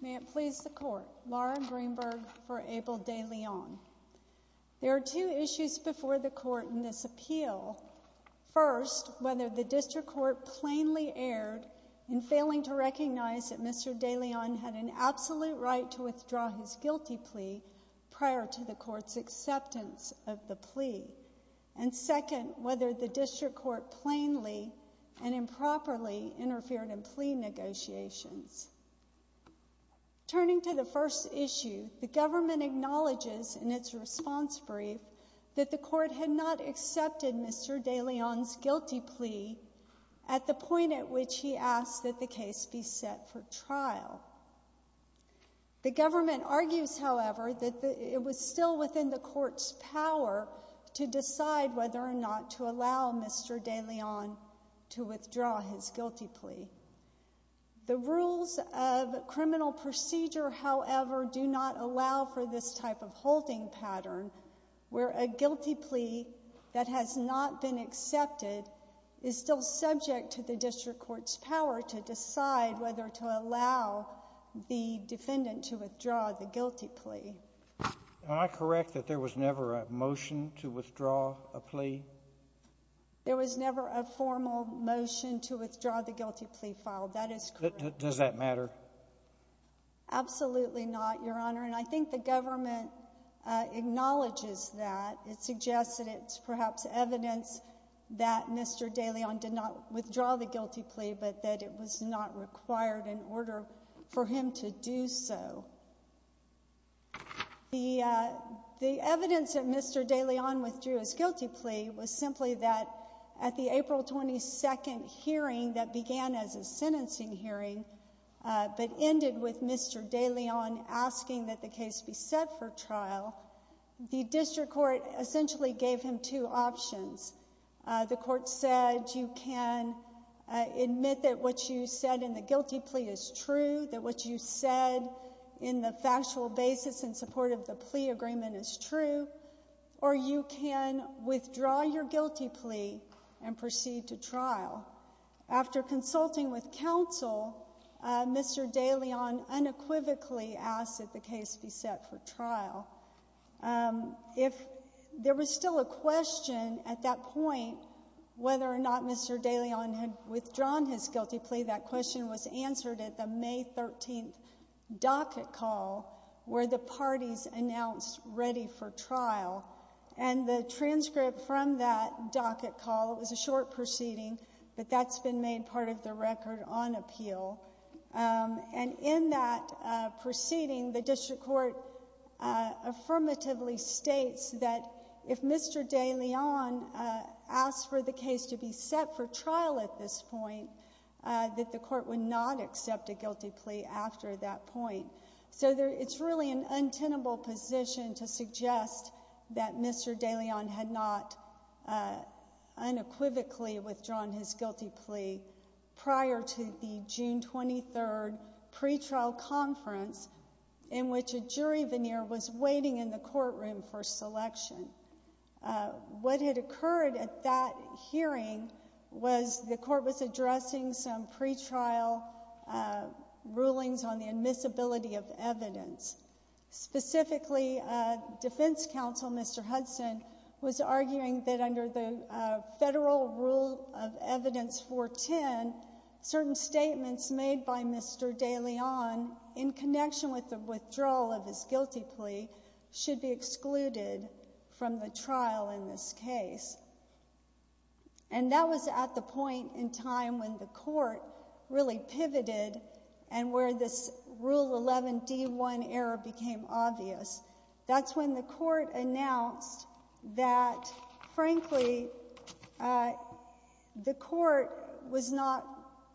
May it please the Court. Lauren Greenberg for Abel De Leon. There are two issues before the court in this appeal. First, whether the district court plainly erred in failing to recognize that Mr. De Leon had an absolute right to withdraw his guilty plea prior to the court's acceptance of the plea. And second, whether the district court plainly and improperly interfered in plea negotiations. Turning to the first issue, the government acknowledges in its response brief that the court had not accepted Mr. De Leon's guilty plea at the point at which he asked that the case be set for trial. The government argues, however, that it was still within the court's power to decide whether or not to allow Mr. De Leon to withdraw his guilty plea. The rules of criminal procedure, however, do not allow for this type of halting pattern, where a guilty plea that has not been accepted is still subject to the district court's power to decide whether to allow the defendant to withdraw the guilty plea. Am I correct that there was never a motion to withdraw a plea? There was never a formal motion to withdraw the guilty plea filed. That is correct. Does that matter? Absolutely not, Your Honor, and I think the government acknowledges that. It suggests that it's perhaps evidence that Mr. De Leon did not withdraw the guilty plea, but that it was not required in order for him to do so. The evidence that Mr. De Leon withdrew his guilty plea was simply that at the April 22nd hearing that began as a sentencing hearing but ended with Mr. De Leon asking that the case be set for trial, the district court essentially gave him two options. The court said you can admit that what you said in the guilty plea is true, that what you said in the factual basis in support of the plea agreement is true, or you can withdraw your guilty plea and proceed to trial. After consulting with there was still a question at that point whether or not Mr. De Leon had withdrawn his guilty plea. That question was answered at the May 13th docket call where the parties announced ready for trial, and the transcript from that docket call, it was a short proceeding, but that's been made part of the record on appeal. And in that proceeding, the district court affirmatively states that if Mr. De Leon asked for the case to be set for trial at this point, that the court would not accept a guilty plea after that point. So it's really an untenable position to suggest that Mr. De Leon had not unequivocally withdrawn his guilty plea prior to the June 23rd pretrial conference in which a jury veneer was waiting in the courtroom for selection. What had occurred at that hearing was the court was addressing some pretrial rulings on the admissibility of evidence. Specifically, defense counsel, Mr. Hudson, was arguing that under the Federal Rule of Evidence 410, certain statements made by Mr. De Leon in connection with the withdrawal of his guilty plea should be excluded from the trial in this case. And that was at the point in time when the court really pivoted and where this Rule 11 D1 error became obvious. That's when the court announced that, frankly, the court was not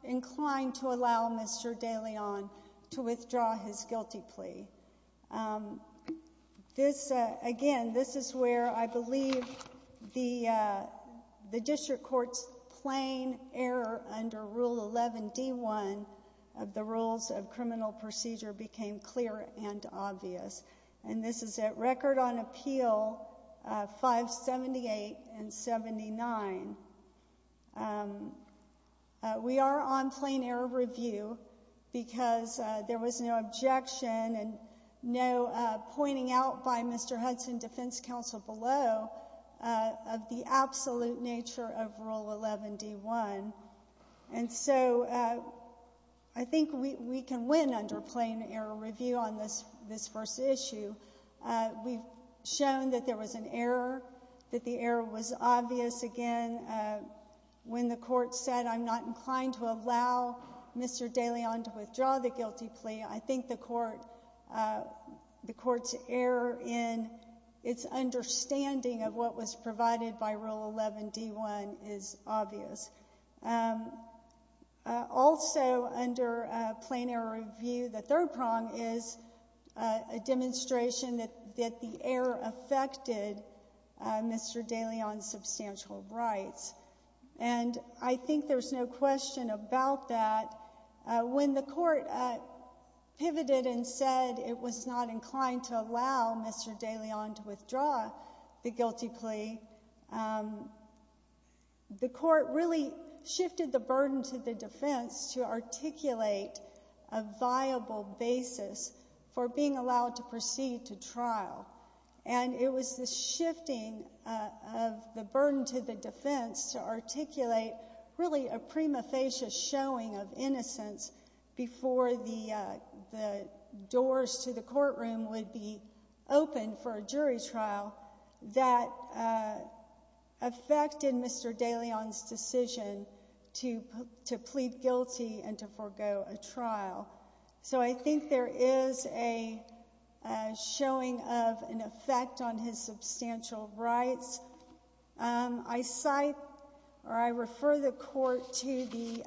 inclined to allow Mr. De Leon to withdraw his guilty plea. Again, this is where I believe the district court's plain error under Rule 11 D1 of the Rules of Criminal Procedure became clear and obvious. And this is at Record on Appeal 578 and 79. We are on plain error review because there was no objection and no pointing out by Mr. De Leon. I think we can win under plain error review on this first issue. We've shown that there was an error, that the error was obvious. Again, when the court said, I'm not inclined to allow Mr. De Leon to withdraw the guilty plea, I think the court's error in its understanding of what was provided by Rule 11 D1 is obvious. Also, under plain error review, the third prong is a demonstration that the error affected Mr. De Leon's substantial rights. And I think there's no question about that. When the court pivoted and said it was not inclined to allow Mr. De Leon to withdraw the guilty plea, the court really shifted the burden to the defense to articulate a viable basis for being allowed to proceed to trial. And it was the shifting of the burden to the defense to articulate really a prima facie showing of innocence before the doors to the trial that affected Mr. De Leon's decision to plead guilty and to forego a trial. So I think there is a showing of an effect on his substantial rights. I cite, or I refer the court to the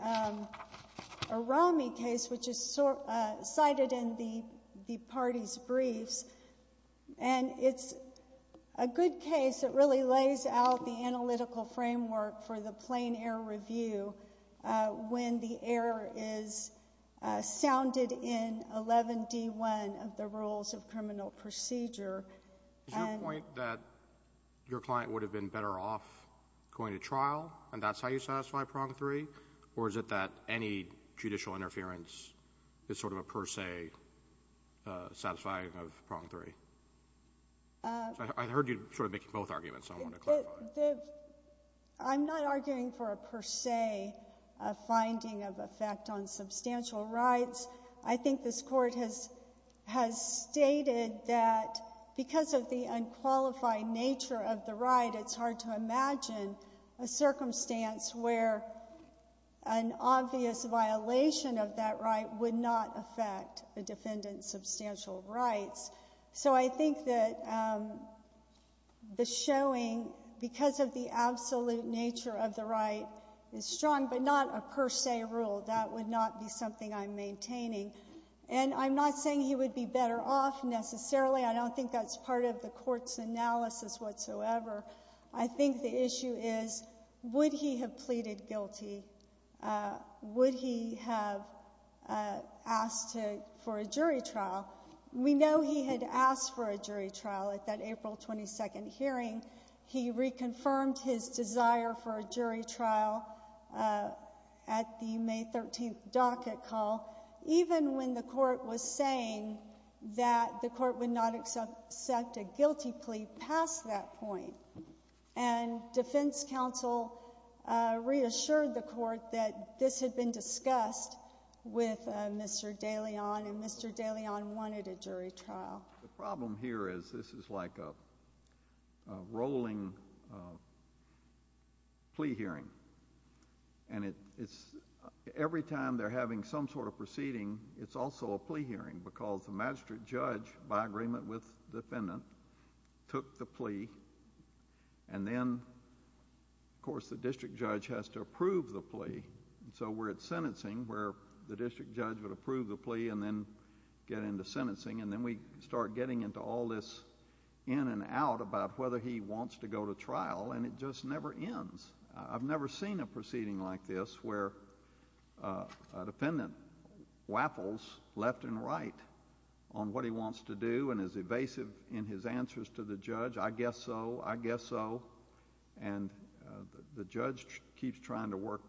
a good case that really lays out the analytical framework for the plain error review when the error is sounded in 11 D1 of the rules of criminal procedure. Is your point that your client would have been better off going to trial, and that's how you satisfy prong three? Or is it that any judicial interference is sort of a per se satisfying of prong three? I heard you sort of making both arguments, so I want to clarify. I'm not arguing for a per se finding of effect on substantial rights. I think this court has stated that because of the unqualified nature of the right, it's hard to imagine a circumstance where an obvious violation of that right would not affect a defendant's substantial rights. So I think that the showing, because of the absolute nature of the right, is strong, but not a per se rule. That would not be something I'm maintaining. And I'm not saying he would be better off necessarily. I don't think that's part of the court's analysis whatsoever. I think the issue is, would he have pleaded guilty? Would he have asked for a jury trial? We know he had asked for a jury trial at that April 22nd hearing. He reconfirmed his desire for a jury trial at the May 13th docket call, even when the court was saying that the court would not accept a guilty plea past that point. And defense counsel reassured the court that this had been discussed with Mr. DeLeon, and Mr. DeLeon wanted a jury trial. The problem here is this is like a rolling plea hearing, and it's every time they're having some sort of proceeding, it's also a plea hearing, because the magistrate judge, by agreement with the defendant, took the plea, and then, of course, the district judge has to approve the plea. So we're at sentencing, where the district judge would approve the plea and then get into sentencing, and then we start getting into all this in and out about whether he wants to go to trial, and it just never ends. I've never seen a proceeding like this where a defendant waffles left and right on what he wants to do and is evasive in his answers to the judge, I guess so, I guess so, and the judge keeps trying to work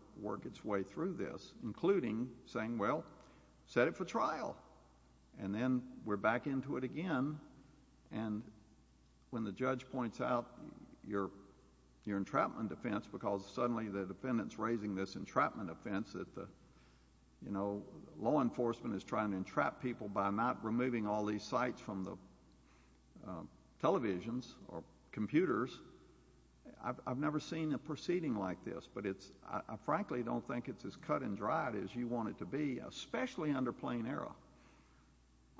its way through this, including saying, well, set it for trial, and then we're back into it again. And when the judge points out your entrapment defense, because suddenly the defendant's entrapment offense that the, you know, law enforcement is trying to entrap people by not removing all these sites from the televisions or computers, I've never seen a proceeding like this, but it's, I frankly don't think it's as cut and dried as you want it to be, especially under plain error.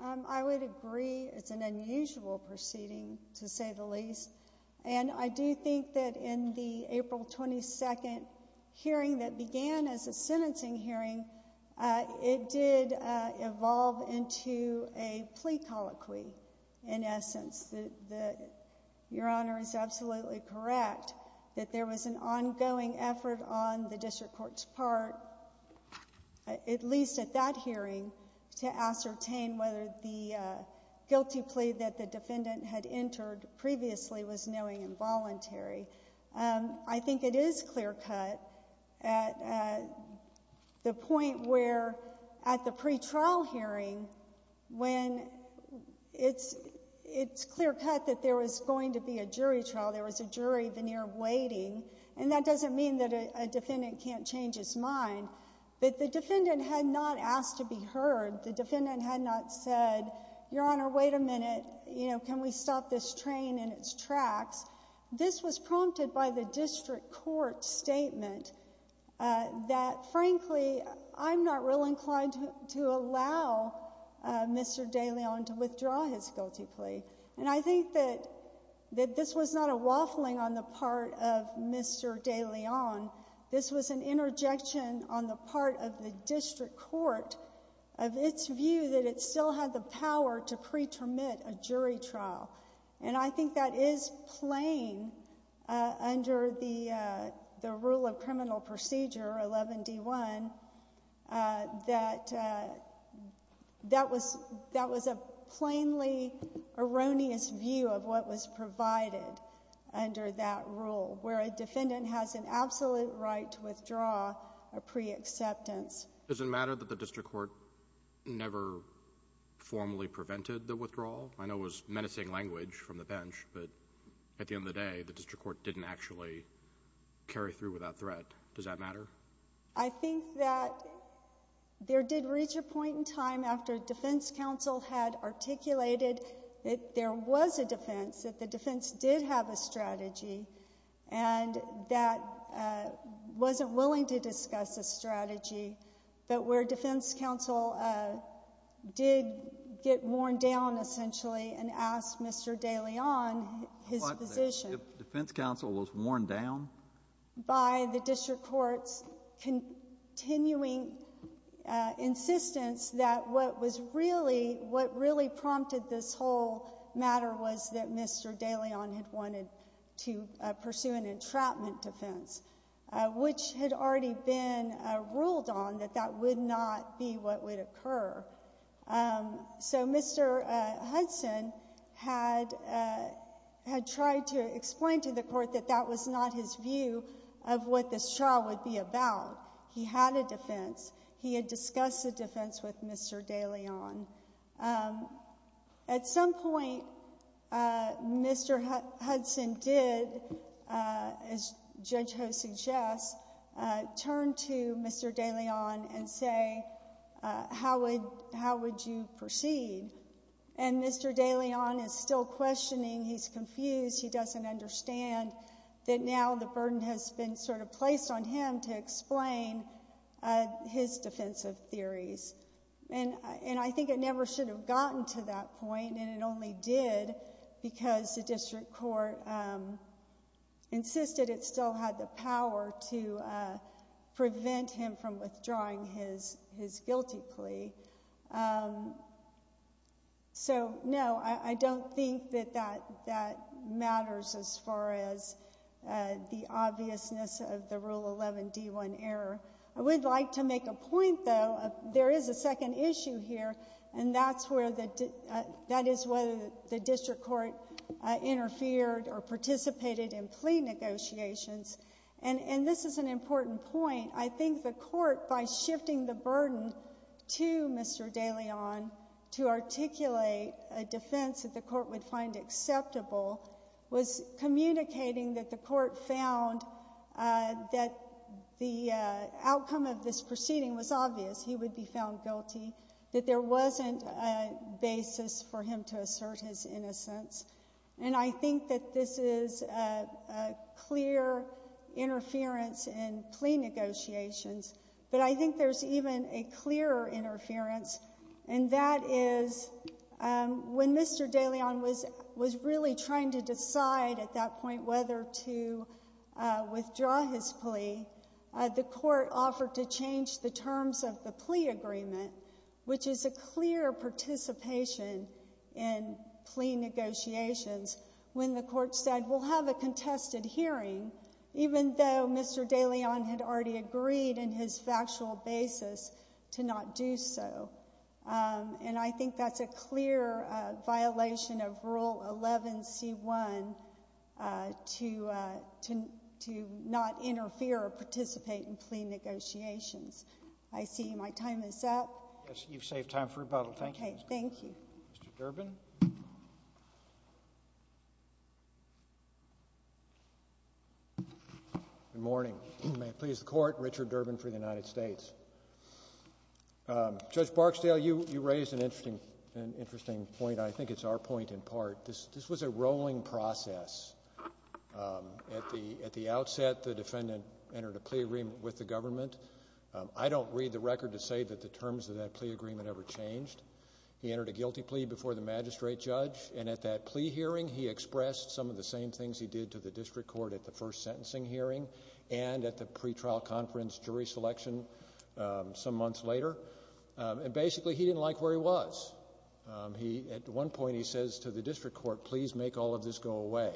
I would agree it's an unusual proceeding, to say the least, and I do think that in the April 22nd hearing that began as a sentencing hearing, it did evolve into a plea colloquy, in essence. Your Honor is absolutely correct that there was an ongoing effort on the district court's part, at least at that hearing, to ascertain whether the guilty plea that the I think it is clear-cut at the point where at the pretrial hearing, when it's clear-cut that there was going to be a jury trial, there was a jury veneer waiting, and that doesn't mean that a defendant can't change his mind, but the defendant had not asked to be heard. The defendant had not said, Your Honor, wait a minute, you know, can we stop this train in its tracks? This was prompted by the district court statement that, frankly, I'm not real inclined to allow Mr. de Leon to withdraw his guilty plea, and I think that this was not a waffling on the part of Mr. de Leon. This was an interjection on the part of the district court of its view that it still had the power to pre-termit a jury trial, and I think that is plain under the rule of criminal procedure 11d1, that that was a plainly erroneous view of what was provided under that rule, where a defendant has an absolute right to withdraw a pre-acceptance. Does it matter that the district court never formally prevented the withdrawal? I know it was menacing language from the bench, but at the end of the day, the district court didn't actually carry through without threat. Does that matter? I think that there did reach a point in time after defense counsel had articulated that there was a defense, that the defense did have a strategy, and that wasn't willing to discuss a strategy, but where defense counsel did get worn down, essentially, and asked Mr. de Leon his position. Defense counsel was worn down? By the district court's continuing insistence that what was really, what really prompted this whole matter was that Mr. de Leon had wanted to pursue an entrapment defense, which had already been ruled on that that would not be what would occur. So Mr. Hudson had tried to explain to the court that that was not his view of what this trial would be about. He had a defense. He had a strategy. At some point, Mr. Hudson did, as Judge Ho suggests, turn to Mr. de Leon and say, how would you proceed? And Mr. de Leon is still questioning. He's confused. He doesn't understand that now the burden has been sort of placed on him to explain his defensive theories. And I think it never should have gotten to that point, and it only did because the district court insisted it still had the power to prevent him from withdrawing his guilty plea. So, no, I don't think that that matters as far as the obviousness of the Rule 11d1 error. I would like to make a point, though. There is a second issue here, and that is whether the district court interfered or participated in plea negotiations. And this is an important point. I think the court, by shifting the burden to Mr. de Leon to articulate a defense that the court would outcome of this proceeding was obvious, he would be found guilty, that there wasn't a basis for him to assert his innocence. And I think that this is a clear interference in plea negotiations, but I think there's even a clearer interference, and that is when Mr. de Leon was really trying to decide at that point whether to withdraw his plea, the court offered to change the terms of the plea agreement, which is a clear participation in plea negotiations, when the court said, we'll have a contested hearing, even though Mr. de Leon had already agreed in his factual basis to not do so. And I think that's a clear violation of Rule 11c1 to not interfere or participate in plea negotiations. I see my time is up. Yes, you've saved time for rebuttal. Thank you. Okay, thank you. Mr. Durbin? Good morning. May it please the Court, Richard Durbin for the United States. Judge Barksdale, you raised an interesting point, and I think it's our point in part. This was a rolling process. At the outset, the defendant entered a plea agreement with the government. I don't read the record to say that the terms of that were agreed by the magistrate judge, and at that plea hearing, he expressed some of the same things he did to the district court at the first sentencing hearing and at the pre-trial conference jury selection some months later. And basically, he didn't like where he was. At one point, he says to the district court, please make all of this go away.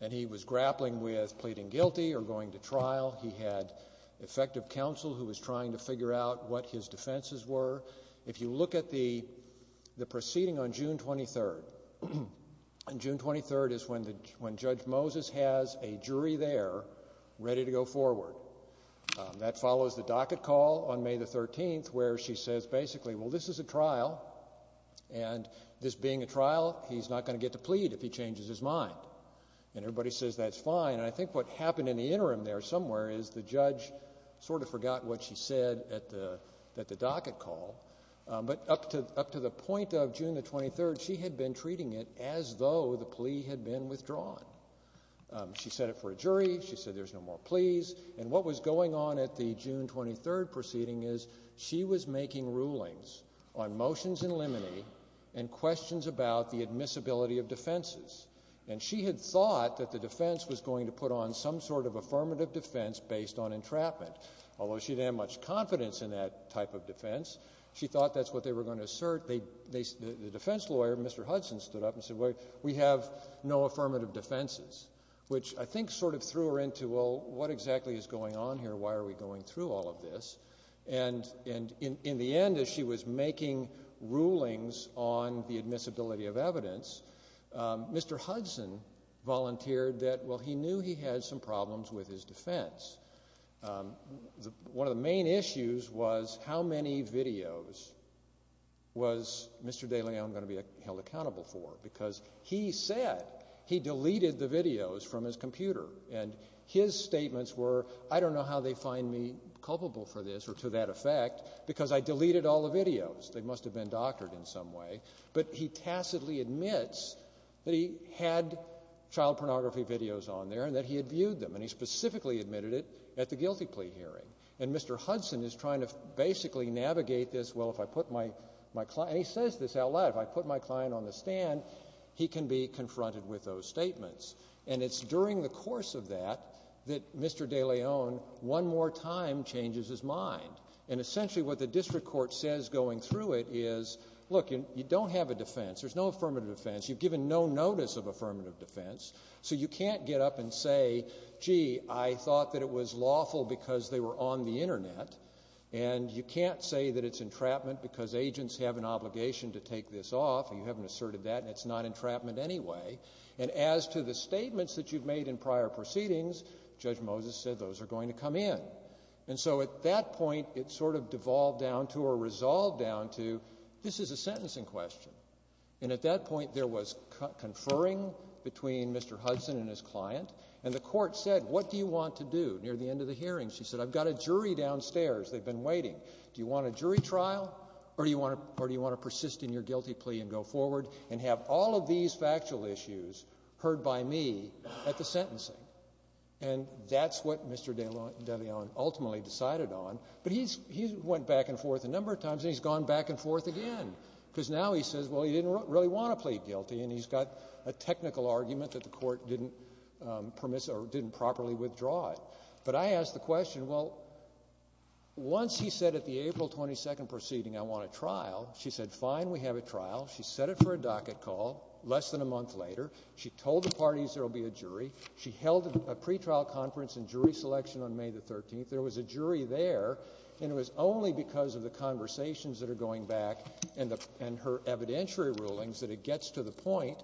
And he was grappling with pleading guilty or going to trial. He had effective counsel who was trying to figure out what his defenses were. If you look at the proceeding on June 23rd, and June 23rd is when Judge Moses has a jury there ready to go forward. That follows the docket call on May 13th, where she says basically, well, this is a trial, and this being a trial, he's not going to get to plead if he changes his mind. And everybody says that's fine. And I think what happened in the interim there somewhere is the judge sort of forgot what she said at the docket call, but up to the point of June 23rd, she had been treating it as though the plea had been withdrawn. She set it for a jury. She said there's no more pleas. And what was going on at the June 23rd proceeding is she was making rulings on motions in limine and questions about the admissibility of defenses. And she had thought that the defense was going to put on some sort of affirmative defense based on entrapment, although she didn't have much confidence in that type of defense. She thought that's what they were going to assert. They — the defense lawyer, Mr. Hudson, stood up and said, well, we have no affirmative defenses, which I think sort of threw her into, well, what exactly is going on here? Why are we going through all of this? And in the end, as she was making rulings on the admissibility of evidence, Mr. Hudson volunteered that, well, he knew he had some problems with his defense. One of the main issues was how many videos was Mr. de Leon going to be held accountable for? Because he said he deleted the videos from his computer. And his statements were, I don't know how they find me culpable for this or to that effect, because I deleted all the videos. They must have been doctored in some way. But he tacitly admits that he had child pornography videos on there and that he had viewed them. And he specifically admitted it at the guilty plea hearing. And Mr. Hudson is trying to basically navigate this, well, if I put my client — and he says this out loud. If I put my client on the stand, he can be confronted with those statements. And it's during the course of that that Mr. de Leon one more time changes his mind. And essentially what the district court says going through it is, look, you don't have a defense. There's no affirmative defense. You've given no notice of affirmative defense. So you can't get up and say, gee, I thought that it was lawful because they were on the case off, and you haven't asserted that, and it's not entrapment anyway. And as to the statements that you've made in prior proceedings, Judge Moses said those are going to come in. And so at that point, it sort of devolved down to or resolved down to, this is a sentencing question. And at that point, there was conferring between Mr. Hudson and his client. And the court said, what do you want to do near the end of the hearing? She said, I've got a jury downstairs. They've been waiting. Do you want a jury trial, or do you want to persist in your guilty plea and go forward and have all of these factual issues heard by me at the sentencing? And that's what Mr. de Leon ultimately decided on. But he's — he went back and forth a number of times, and he's gone back and forth again, because now he says, well, he didn't really want to plead guilty, and he's got a technical argument that the court didn't permissive or didn't properly withdraw it. But I asked the question, well, once he said at the April 22nd proceeding, I want a trial, she said, fine, we have a trial. She set it for a docket call less than a month later. She told the parties there will be a jury. She held a pretrial conference and jury selection on May the 13th. There was a jury there, and it was only because of the conversations that are going back and the — and her evidentiary rulings that it gets to the point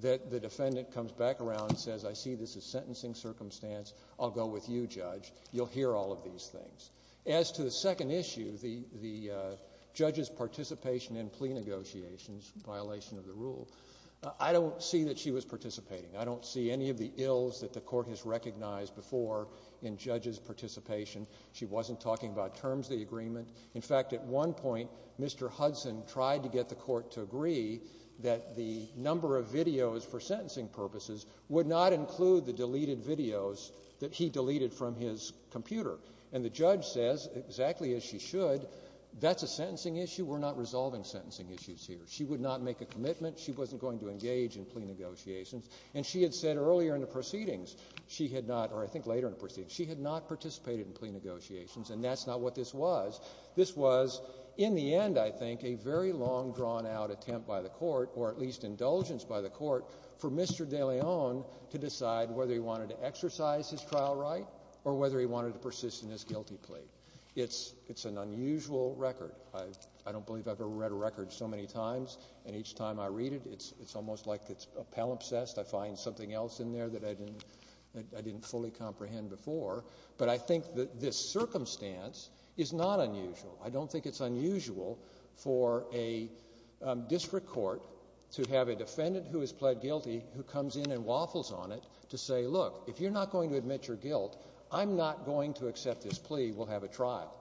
that the defendant comes back around and says, I see this as sentencing circumstance. I'll go with you, Judge. You'll hear all of these things. As to the second issue, the — the judge's participation in plea negotiations, violation of the rule, I don't see that she was participating. I don't see any of the ills that the court has recognized before in Judge's participation. She wasn't talking about terms of the that the number of videos for sentencing purposes would not include the deleted videos that he deleted from his computer. And the judge says, exactly as she should, that's a sentencing issue. We're not resolving sentencing issues here. She would not make a commitment. She wasn't going to engage in plea negotiations. And she had said earlier in the proceedings she had not — or I think later in the proceedings — she had not participated in plea or at least indulgence by the court for Mr. de Leon to decide whether he wanted to exercise his trial right or whether he wanted to persist in his guilty plea. It's an unusual record. I don't believe I've ever read a record so many times. And each time I read it, it's almost like it's a palimpsest. I find something else in there that I didn't fully comprehend before. But I think that this circumstance is not unusual. I don't think it's unusual for a district court to have a defendant who is pled guilty who comes in and waffles on it to say, look, if you're not going to admit your guilt, I'm not going to accept this plea. We'll have a trial.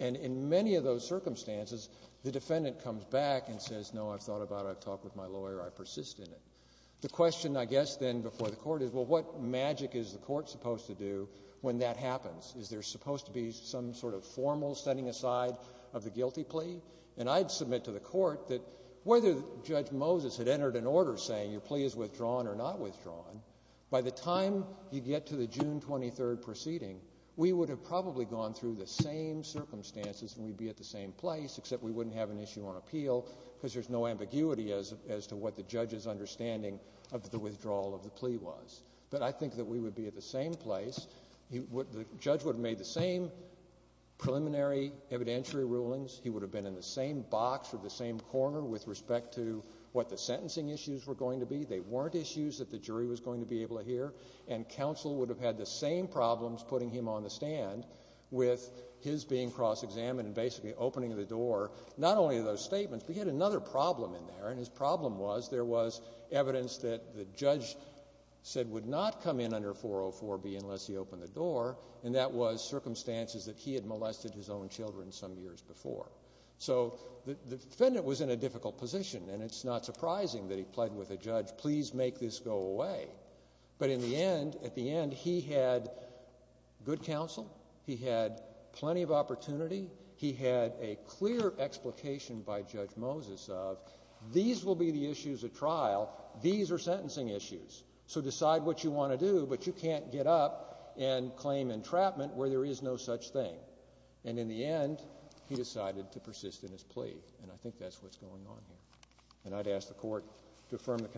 And in many of those circumstances, the defendant comes back and says, no, I've thought about it. I've talked with my lawyer. I persist in it. The question, I guess, then before the court is, well, what magic is the court supposed to do when that happens? Is there supposed to be some sort of formal setting aside of the guilty plea? And I'd submit to the court that whether Judge Moses had entered an order saying your plea is withdrawn or not withdrawn, by the time you get to the June 23 proceeding, we would have probably gone through the same circumstances and we'd be at the same place, except we wouldn't have an issue on appeal because there's no ambiguity as to what the judge's understanding of the withdrawal of the plea was. But I think that we would be at the same place. The judge would have made the same preliminary evidentiary rulings. He would have been in the same box or the same corner with respect to what the sentencing issues were going to be. They weren't issues that the jury was going to be able to hear. And counsel would have had the same problems putting him on the stand with his being cross-examined and basically opening the door, not only to those statements, but he had another problem in there, and his problem was there was evidence that the judge said would not come in under 404B unless he opened the door, and that was circumstances that he had molested his own children some years before. So the defendant was in a difficult position, and it's not surprising that he pleaded with the judge, please make this go away. But in the end, at the end, he had good counsel. He had plenty of opportunity. He had a clear explication by Judge Moses of these will be the issues at trial. These are sentencing issues. So decide what you want to do, but you can't get up and claim entrapment where there is no such thing. And in the end, he decided to persist in his plea. And I think that's what's going on here. And I'd ask the court to affirm the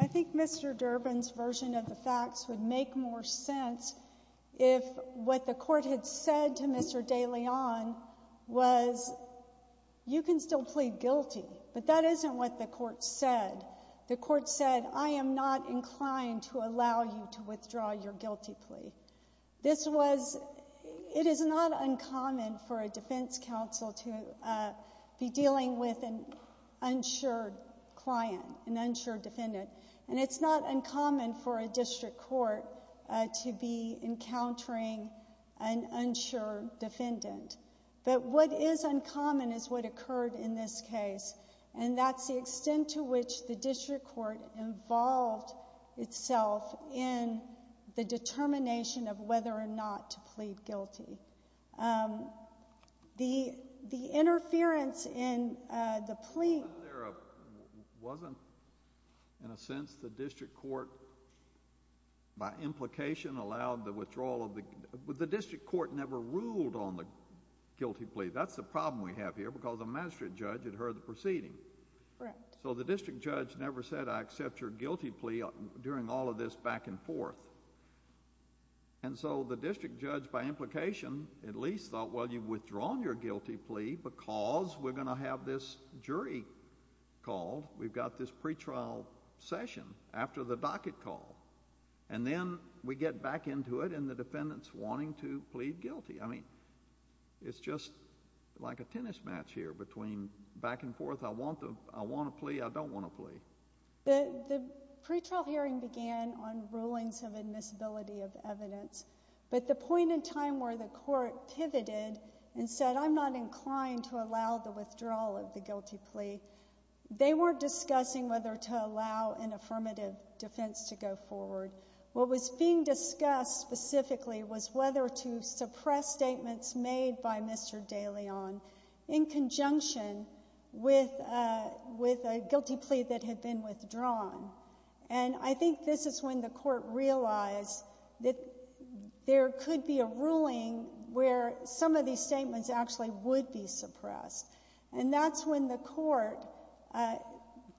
I think Mr. Durbin's version of the facts would make more sense if what the court had said to Mr. De Leon was you can still plead guilty, but that isn't what the court said. The court said I am not inclined to allow you to withdraw your guilty plea. This was, it is not uncommon for a defense counsel to be dealing with an unsure client, an unsure defendant, and it's not uncommon for a district court to be encountering an unsure defendant. But what is uncommon is what occurred in this case, and that's the district court involved itself in the determination of whether or not to plead guilty. The interference in the plea Wasn't there a, wasn't, in a sense, the district court, by implication, allowed the withdrawal of the, the district court never ruled on the guilty plea. That's the district court never said I accept your guilty plea during all of this back and forth. And so the district judge, by implication, at least thought, well, you've withdrawn your guilty plea because we're going to have this jury called. We've got this pretrial session after the docket call. And then we get back into it and the defendant's wanting to plead guilty. I mean, it's just like a tennis match here between back and forth. I want to, I want to plea, I don't want to plea. The, the pretrial hearing began on rulings of admissibility of evidence. But the point in time where the court pivoted and said I'm not inclined to allow the withdrawal of the guilty plea, they weren't discussing whether to allow an affirmative defense to go forward. What was being discussed specifically was whether to suppress statements made by Mr. De Leon in conjunction with a, with a guilty plea that had been withdrawn. And I think this is when the court realized that there could be a ruling where some of these statements actually would be suppressed. And that's when the court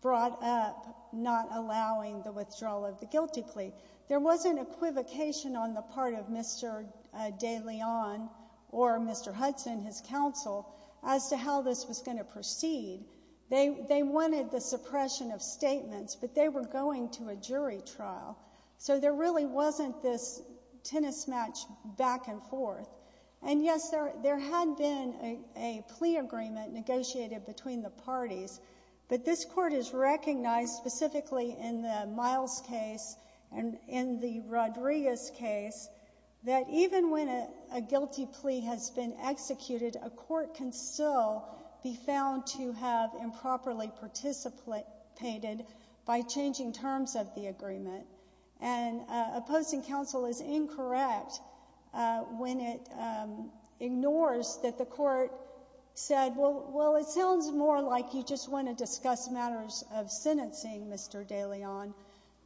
brought up not allowing the withdrawal of the guilty plea. There was an equivocation on the part of Mr. De Leon or Mr. Hudson, his counsel, as to how this was going to proceed. They, they wanted the suppression of statements, but they were going to a jury trial. So there really wasn't this tennis match back and forth. And yes, there, there had been a, a plea agreement negotiated between the parties. But this court has recognized specifically in the Miles case and in the Rodriguez case that even when a, a guilty plea has been executed, a court can still be found to have a guilty plea. And the court has recognized that the court has been found to have improperly participated by changing terms of the agreement. And opposing counsel is incorrect when it ignores that the court said, well, well, it sounds more like you just want to discuss matters of sentencing, Mr. De Leon,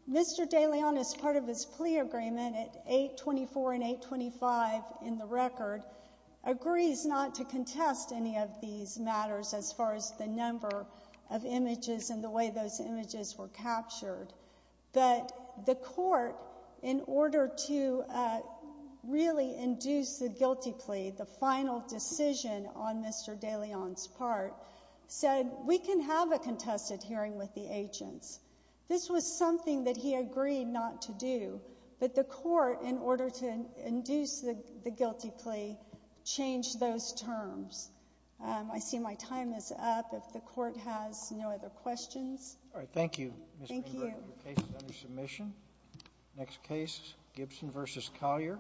Mr. De Leon, as part of his plea agreement at 824 and 825 in the record, agrees not to contest any of these matters as far as the numbers are concerned. The court has no other questions. All right, thank you, Ms. Greenberg. Thank you. Your case is under submission. Next case, Gibson v. Collier.